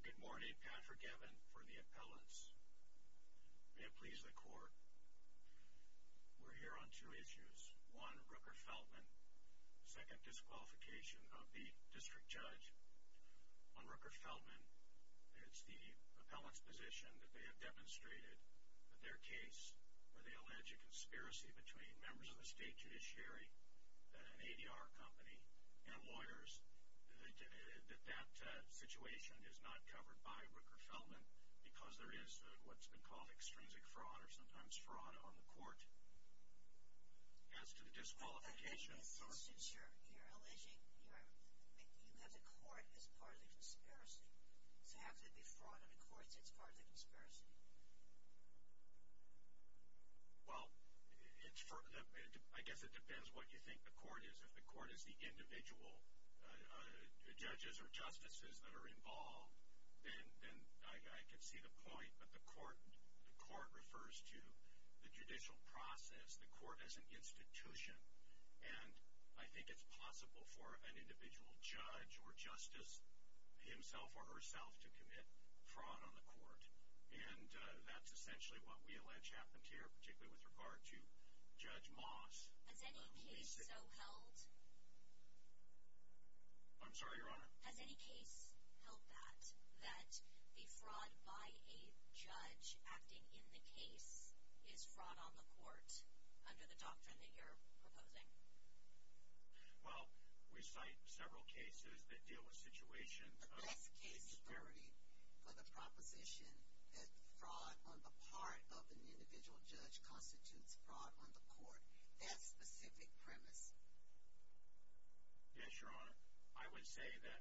Good morning, Patrick Evan for the appellants. May it please the court, we're here on two issues. One, Rooker-Feldman. Second, disqualification of the district judge on Rooker-Feldman. It's the appellant's position that they have demonstrated that their case, where they allege a conspiracy between members of the state judiciary, an ADR company, and lawyers, that that situation is not covered by Rooker-Feldman because there is what's been called extrinsic fraud, or sometimes fraud on the court. As to the disqualification of the court... So since you're alleging, you have the court as part of the conspiracy, so how could it be fraud on the court since it's part of the conspiracy? Well, I guess it depends what you think the court is. If the court is the individual judges or justices that are involved, then I could see the point, but the court refers to the judicial process, the court as an institution, and I think it's possible for an individual judge or justice, himself or herself, to commit fraud on the court. And that's essentially what we allege happened here, particularly with regard to Judge Moss. Has any case so held? I'm sorry, Your Honor. Has any case held that, that the fraud by a judge acting in the case is fraud on the court, under the doctrine that you're proposing? Well, we cite several cases that deal with situations... The best case theory for the proposition that fraud on the part of an individual judge constitutes fraud on the court. That specific premise. Yes, Your Honor. I would say that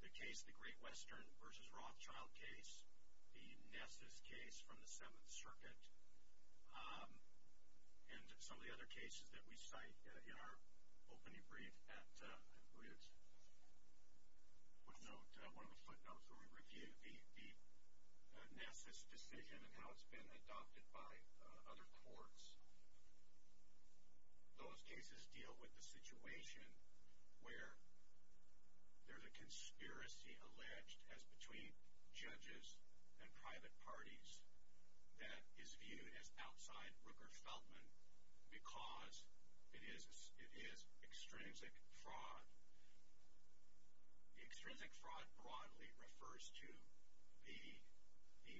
the case, the Great Western v. Rothschild case, the Nessus case from the Seventh Circuit, and some of the other cases that we cite in our opening brief at Ritz, one of the footnotes where we review the Nessus decision and how it's been adopted by other courts, those cases deal with the situation where there's a conspiracy alleged as between judges and private parties that is viewed as outside Rooker-Feldman because it is extrinsic fraud. Extrinsic fraud broadly refers to the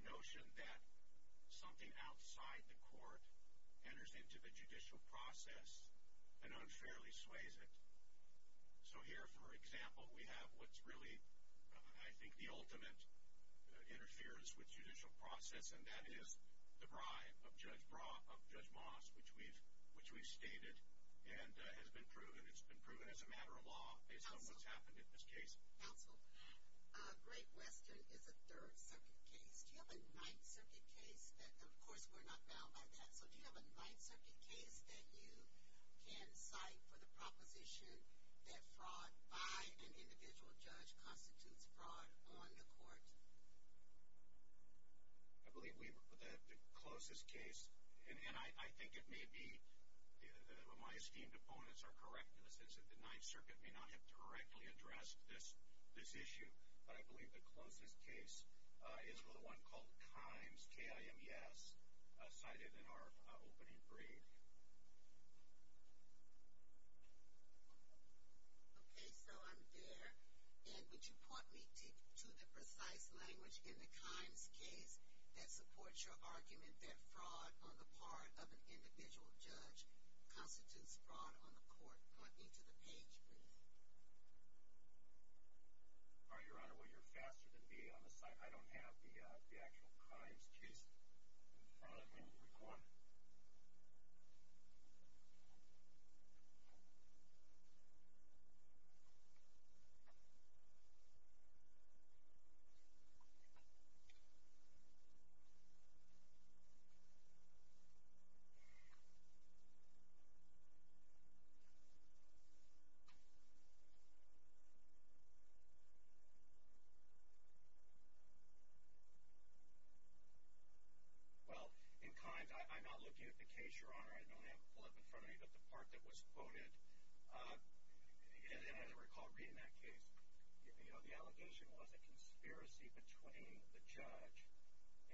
notion that something outside the court enters into the judicial process and unfairly sways it. So here, for example, we have what's really, I think, the ultimate interference with judicial process, and that is the bribe of Judge Moss, which we've stated and has been proven. It's been proven as a matter of law based on what's happened in this case. Counsel, Great Western is a Third Circuit case. Do you have a Ninth Circuit case that... Of course, we're not bound by that. Counsel, do you have a Ninth Circuit case that you can cite for the proposition that fraud by an individual judge constitutes fraud on the court? I believe the closest case, and I think it may be my esteemed opponents are correct in the sense that the Ninth Circuit may not have directly addressed this issue, but I believe the closest case is one called Kimes, K-I-M-E-S, cited in our opening brief. Okay, so I'm there. Ed, would you point me to the precise language in the Kimes case that supports your argument that fraud on the part of an individual judge constitutes fraud on the court? Point me to the page, please. All right, Your Honor. Well, you're faster than me on this. I don't have the actual Kimes case in front of me in the recording. Well, in Kimes, I'm not looking at the case, Your Honor. I don't have it pulled up in front of me, but the part that was quoted, and as I recall reading that case, the allegation was a conspiracy between the judge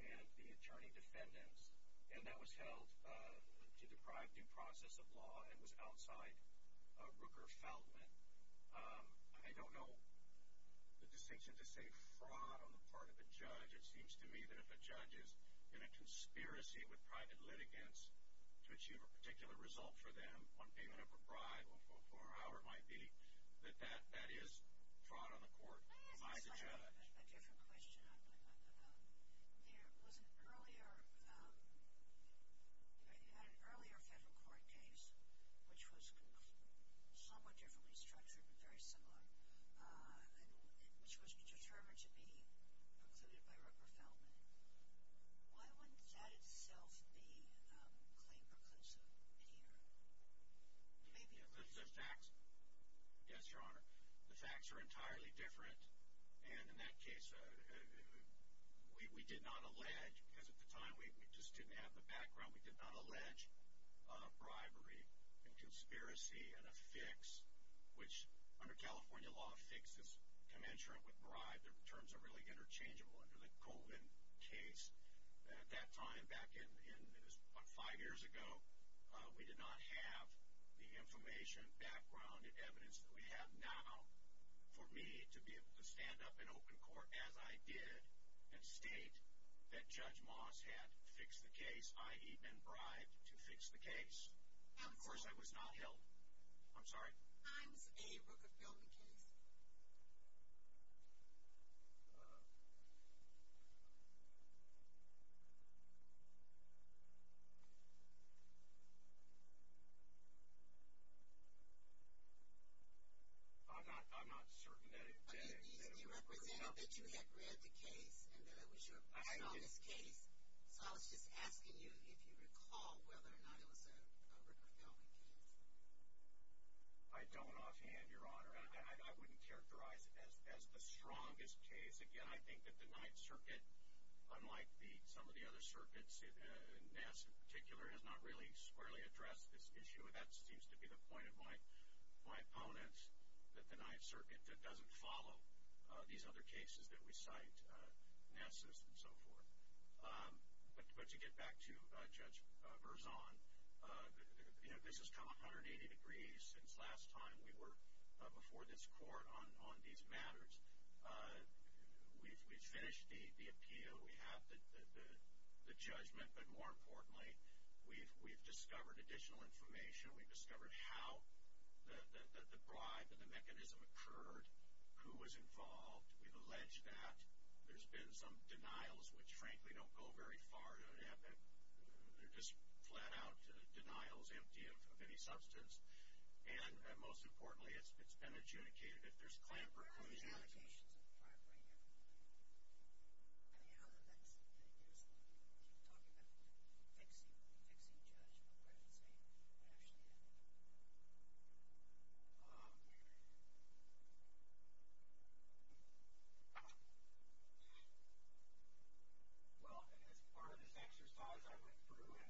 and the attorney defendants, and that was held to deprive due process of law and was outside Rooker-Feldman. I don't know the distinction to say fraud on the part of a judge. It seems to me that if a judge is in a conspiracy with private litigants to achieve a particular result for them, one payment of a bribe, or however it might be, that that is fraud on the court by the judge. I have a different question. There was an earlier Federal Court case, which was somewhat differently structured, but very similar, which was determined to be precluded by Rooker-Feldman. Why wouldn't that itself be claimed preclusive here? It may be. The facts? Yes, Your Honor. The facts are entirely different, and in that case, we did not allege, because at the time we just didn't have the background, we did not allege bribery and conspiracy and a fix, which under California law, a fix is commensurate with bribe. The terms are really interchangeable. Under the Colvin case at that time, back in what, five years ago, we did not have the information, background, and evidence that we have now for me to be able to stand up in open court, as I did, and state that Judge Moss had fixed the case, i.e. been bribed to fix the case. Of course, I was not held. I'm sorry? Was there at that time a Rooker-Feldman case? I'm not certain that it was. You represented that you had read the case and that it was your first on this case, so I was just asking you if you recall whether or not it was a Rooker-Feldman case. I don't offhand, Your Honor. I wouldn't characterize it as the strongest case. Again, I think that the Ninth Circuit, unlike some of the other circuits, NASS in particular has not really squarely addressed this issue, and that seems to be the point of my opponents, that the Ninth Circuit doesn't follow these other cases that we cite, NASS's and so forth. But to get back to Judge Verzon, this has come 180 degrees since last time we were before this court on these matters. We've finished the appeal. We have the judgment. But more importantly, we've discovered additional information. We've discovered how the bribe and the mechanism occurred, who was involved. We've alleged that. There's been some denials, which, frankly, don't go very far to an epic. They're just flat-out denials, empty of any substance. And most importantly, it's been adjudicated. If there's clamber, closure. There's allegations of bribery here. I mean, how did that get used? You keep talking about the fixing judge, but where does he actually end up? Well, as part of this exercise, I went through and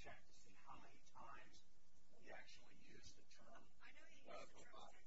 checked to see how many times he actually used the term. I know he used the term a lot, but did you ever say it went away immediately? No. Of course, you have time now. Thank you very much. See you later, Your Honor. Thank you. All right. Thank you, Your Honor. Thank you. Counsel,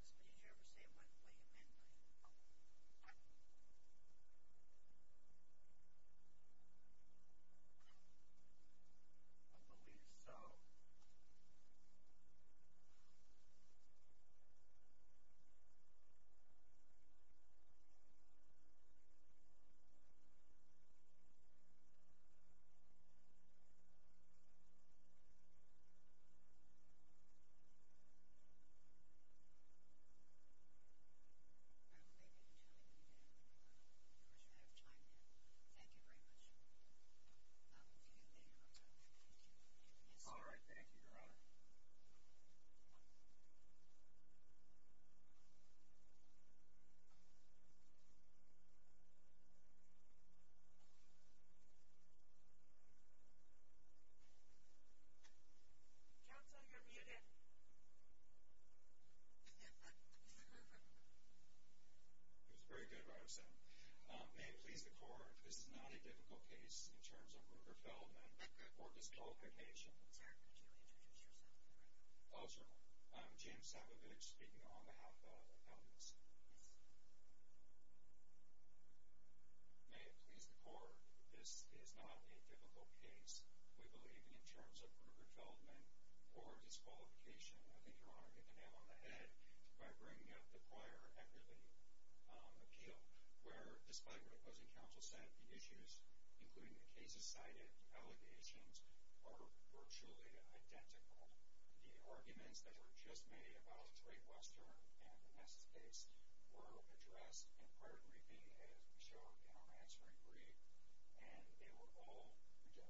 you're muted. It was very good what I've said. May it please the Court, this is not a difficult case in terms of murder, felon, or disqualification. I'm sorry, could you reintroduce yourself? Oh, sure. I'm James Sabovich, speaking on behalf of appellants. Yes. May it please the Court, this is not a difficult case, we believe, in terms of murder, felon, or disqualification. I think Your Honor hit the nail on the head by bringing up the prior equity appeal, where, despite what the opposing counsel said, the issues, including the cases cited, the allegations, are virtually identical. The arguments that were just made about the Trait Western and Vanessa's case were addressed in prior briefing, as we showed in our answering brief, and they were all rejected.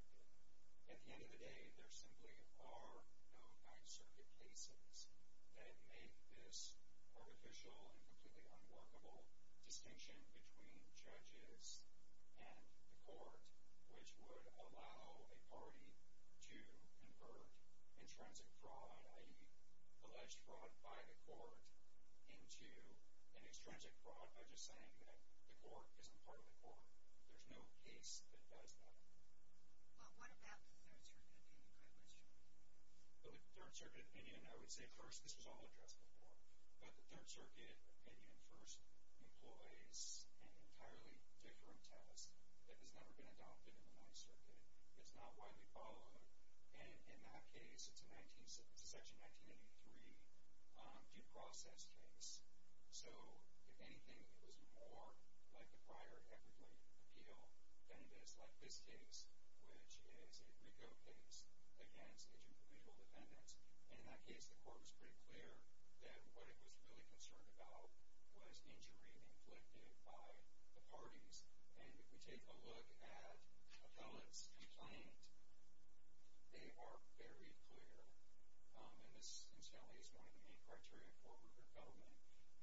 At the end of the day, there simply are no Ninth Circuit cases that make this artificial and completely unworkable distinction between judges and the Court, which would allow a party to convert intrinsic fraud, i.e. alleged fraud by the Court, into an extrinsic fraud by just saying that the Court isn't part of the Court. There's no case that does that. Well, what about the Third Circuit opinion, Craig Westrom? The Third Circuit opinion, I would say, first, this was all addressed before. But the Third Circuit opinion first employs an entirely different test that has never been adopted in the Ninth Circuit. It's not widely followed. And in that case, it's a Section 1983 due process case. So, if anything, it was more like the prior equity appeal than it is like this case, which is a RICO case against individual defendants. And in that case, the Court was pretty clear that what it was really concerned about was injury inflicted by the parties. And if we take a look at Appellate's complaint, they are very clear, and this, incidentally, is one of the main criteria for the government,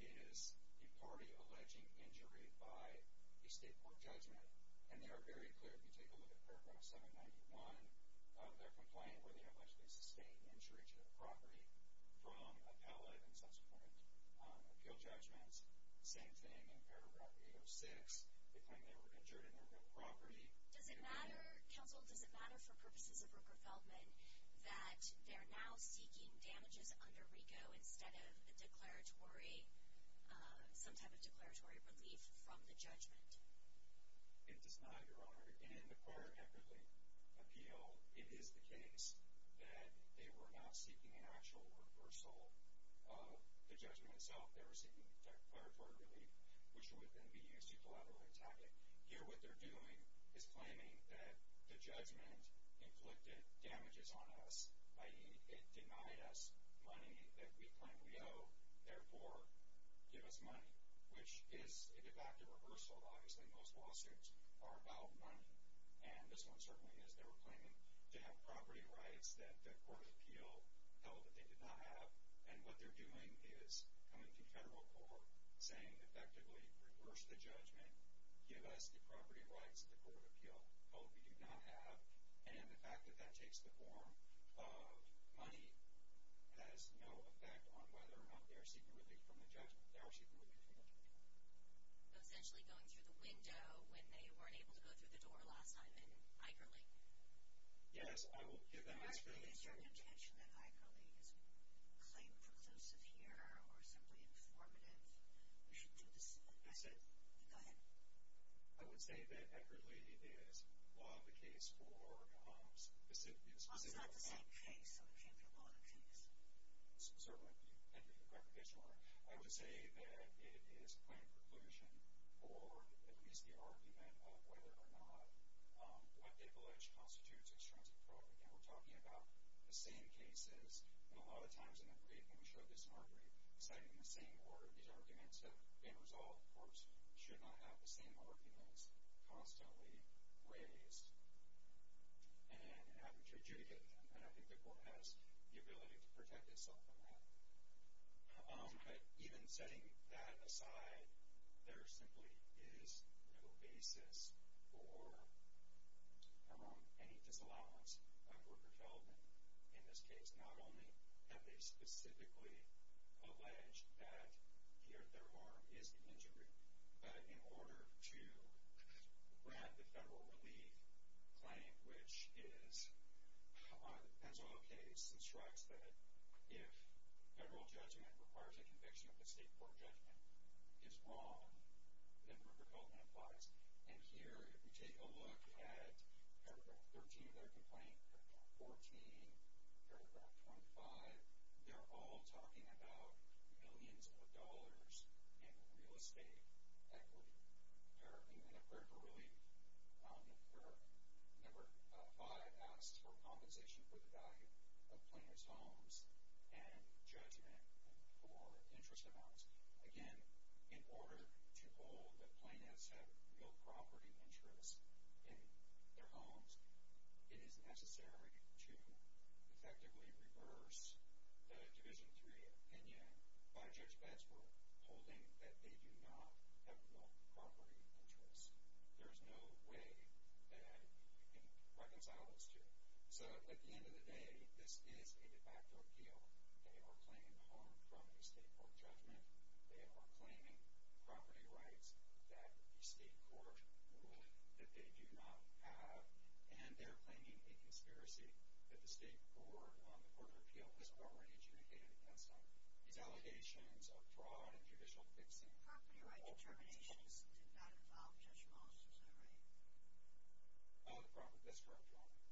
is a party alleging injury by a state court judgment. And they are very clear. If you take a look at Paragraph 791 of their complaint, where they have alleged a sustained injury to the property from Appellate and subsequent appeal judgments, same thing in Paragraph 806. They claim they were injured in their real property. Does it matter, counsel, does it matter for purposes of Rooker-Feldman, that they're now seeking damages under RICO instead of a declaratory, some type of declaratory relief from the judgment? It does not, Your Honor. In the prior equity appeal, it is the case that they were not seeking an actual reversal of the judgment itself. They were seeking declaratory relief, which would then be used to collateralize Appellate. Here, what they're doing is claiming that the judgment inflicted damages on us, i.e., it denied us money that we claim we owe, therefore give us money, which is a de facto reversal. Obviously, most lawsuits are about money. And this one certainly is. They were claiming to have property rights that the court of appeal held that they did not have. And what they're doing is coming to federal court, saying, effectively, reverse the judgment, give us the property rights that the court of appeal held we do not have. And the fact that that takes the form of money has no effect on whether or not they are seeking relief from the judgment. They are seeking relief from the judgment. So essentially going through the window when they weren't able to go through the door last time in Igerle? Yes, I will give them an explanation. Actually, is your intention in Igerle is claim preclusive here or simply informative? We should do the same. Go ahead. I would say that Igerle is law of the case for specific law. Well, it's not the same case. So it's not the law of the case. Certainly. And you're correct, Your Honor. I would say that it is claim preclusion or at least the argument of whether or not what privilege constitutes extrinsic property. And we're talking about the same cases. And a lot of times in the briefing we showed this in our brief. It's not even the same order. These arguments have been resolved. Courts should not have the same arguments constantly raised and having to adjudicate them. And I think the court has the ability to protect itself from that. But even setting that aside, there simply is no basis for any disallowance of worker's health. And in this case, not only have they specifically alleged that their arm is injured, but in order to grab the federal relief claim, which is on the Pennsylvania case, instructs that if federal judgment requires a conviction, if the state court judgment is wrong, then worker development applies. And here, if you take a look at paragraph 13 of their complaint, paragraph 14, paragraph 25, they're all talking about millions of dollars in real estate equity. And I've read the ruling where number five asks for compensation for the value of planner's homes and judgment for interest amounts. Again, in order to hold that planners have real property interests in their homes, it is necessary to effectively reverse the Division III opinion by Judge Betzberg, holding that they do not have real property interests. There is no way that you can reconcile those two. So at the end of the day, this is a de facto appeal. They are claiming harm from the state court judgment. They are claiming property rights that the state court ruled that they do not have, and they're claiming a conspiracy that the State Board on the Court of Appeal was already adjudicated against them. These allegations of fraud and judicial fixing are false. Property rights determinations did not involve Judge Moss, is that right? That's correct,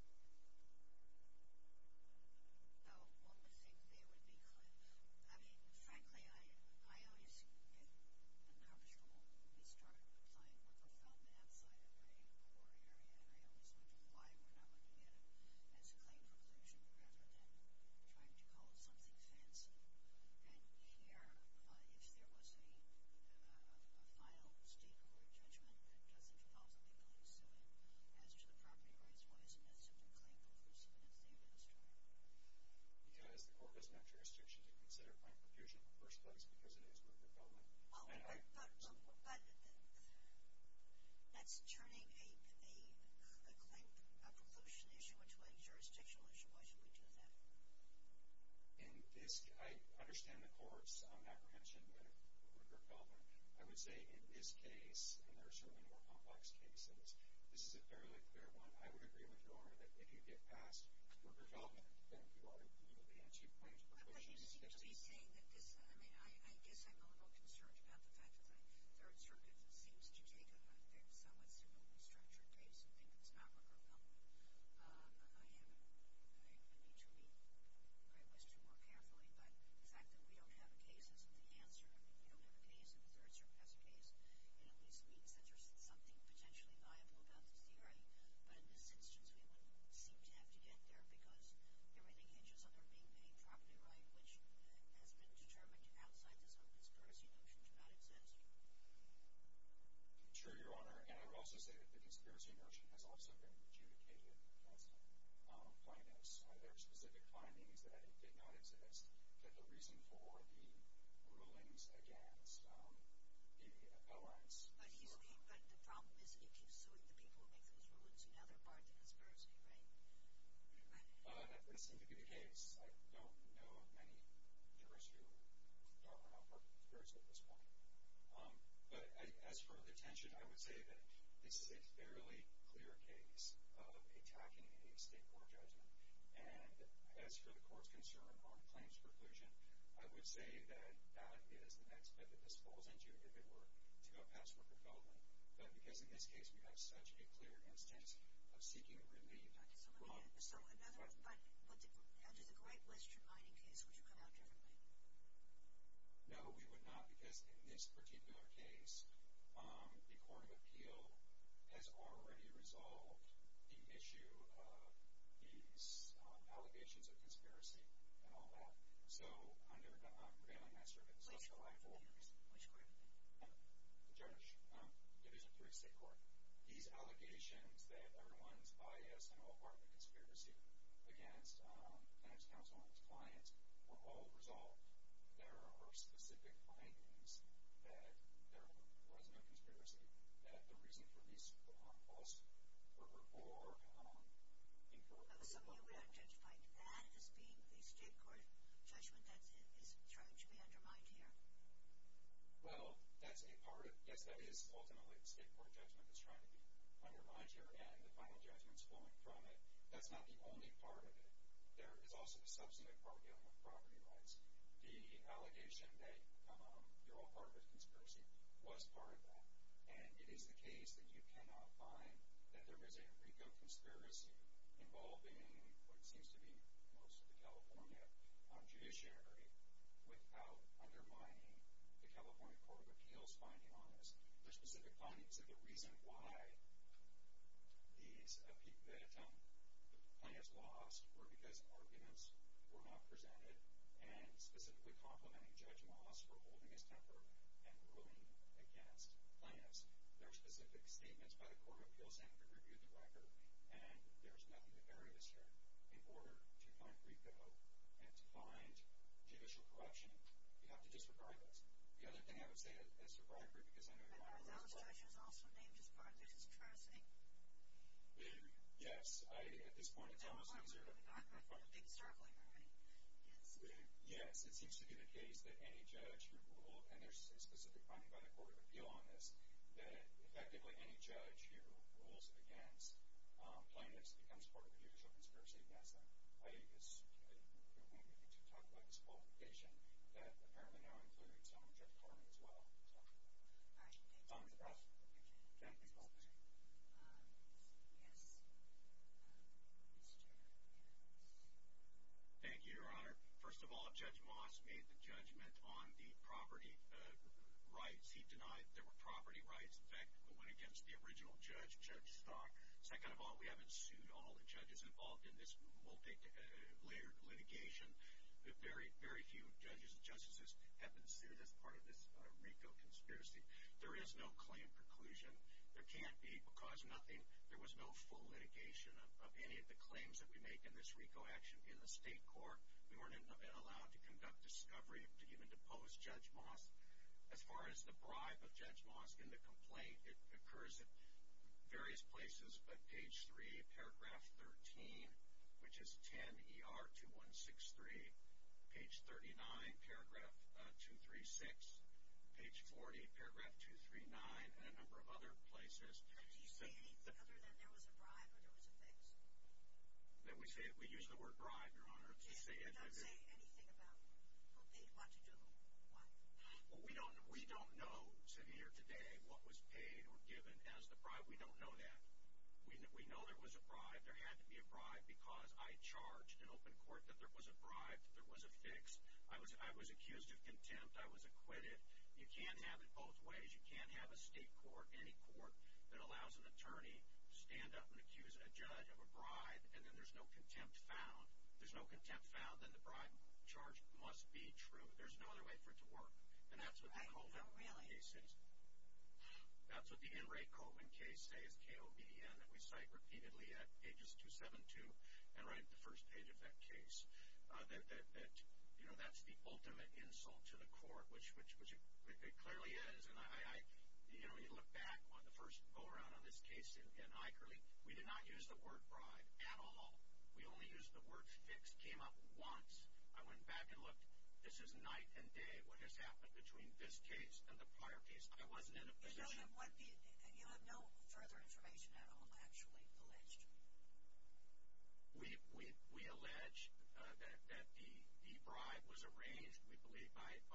Your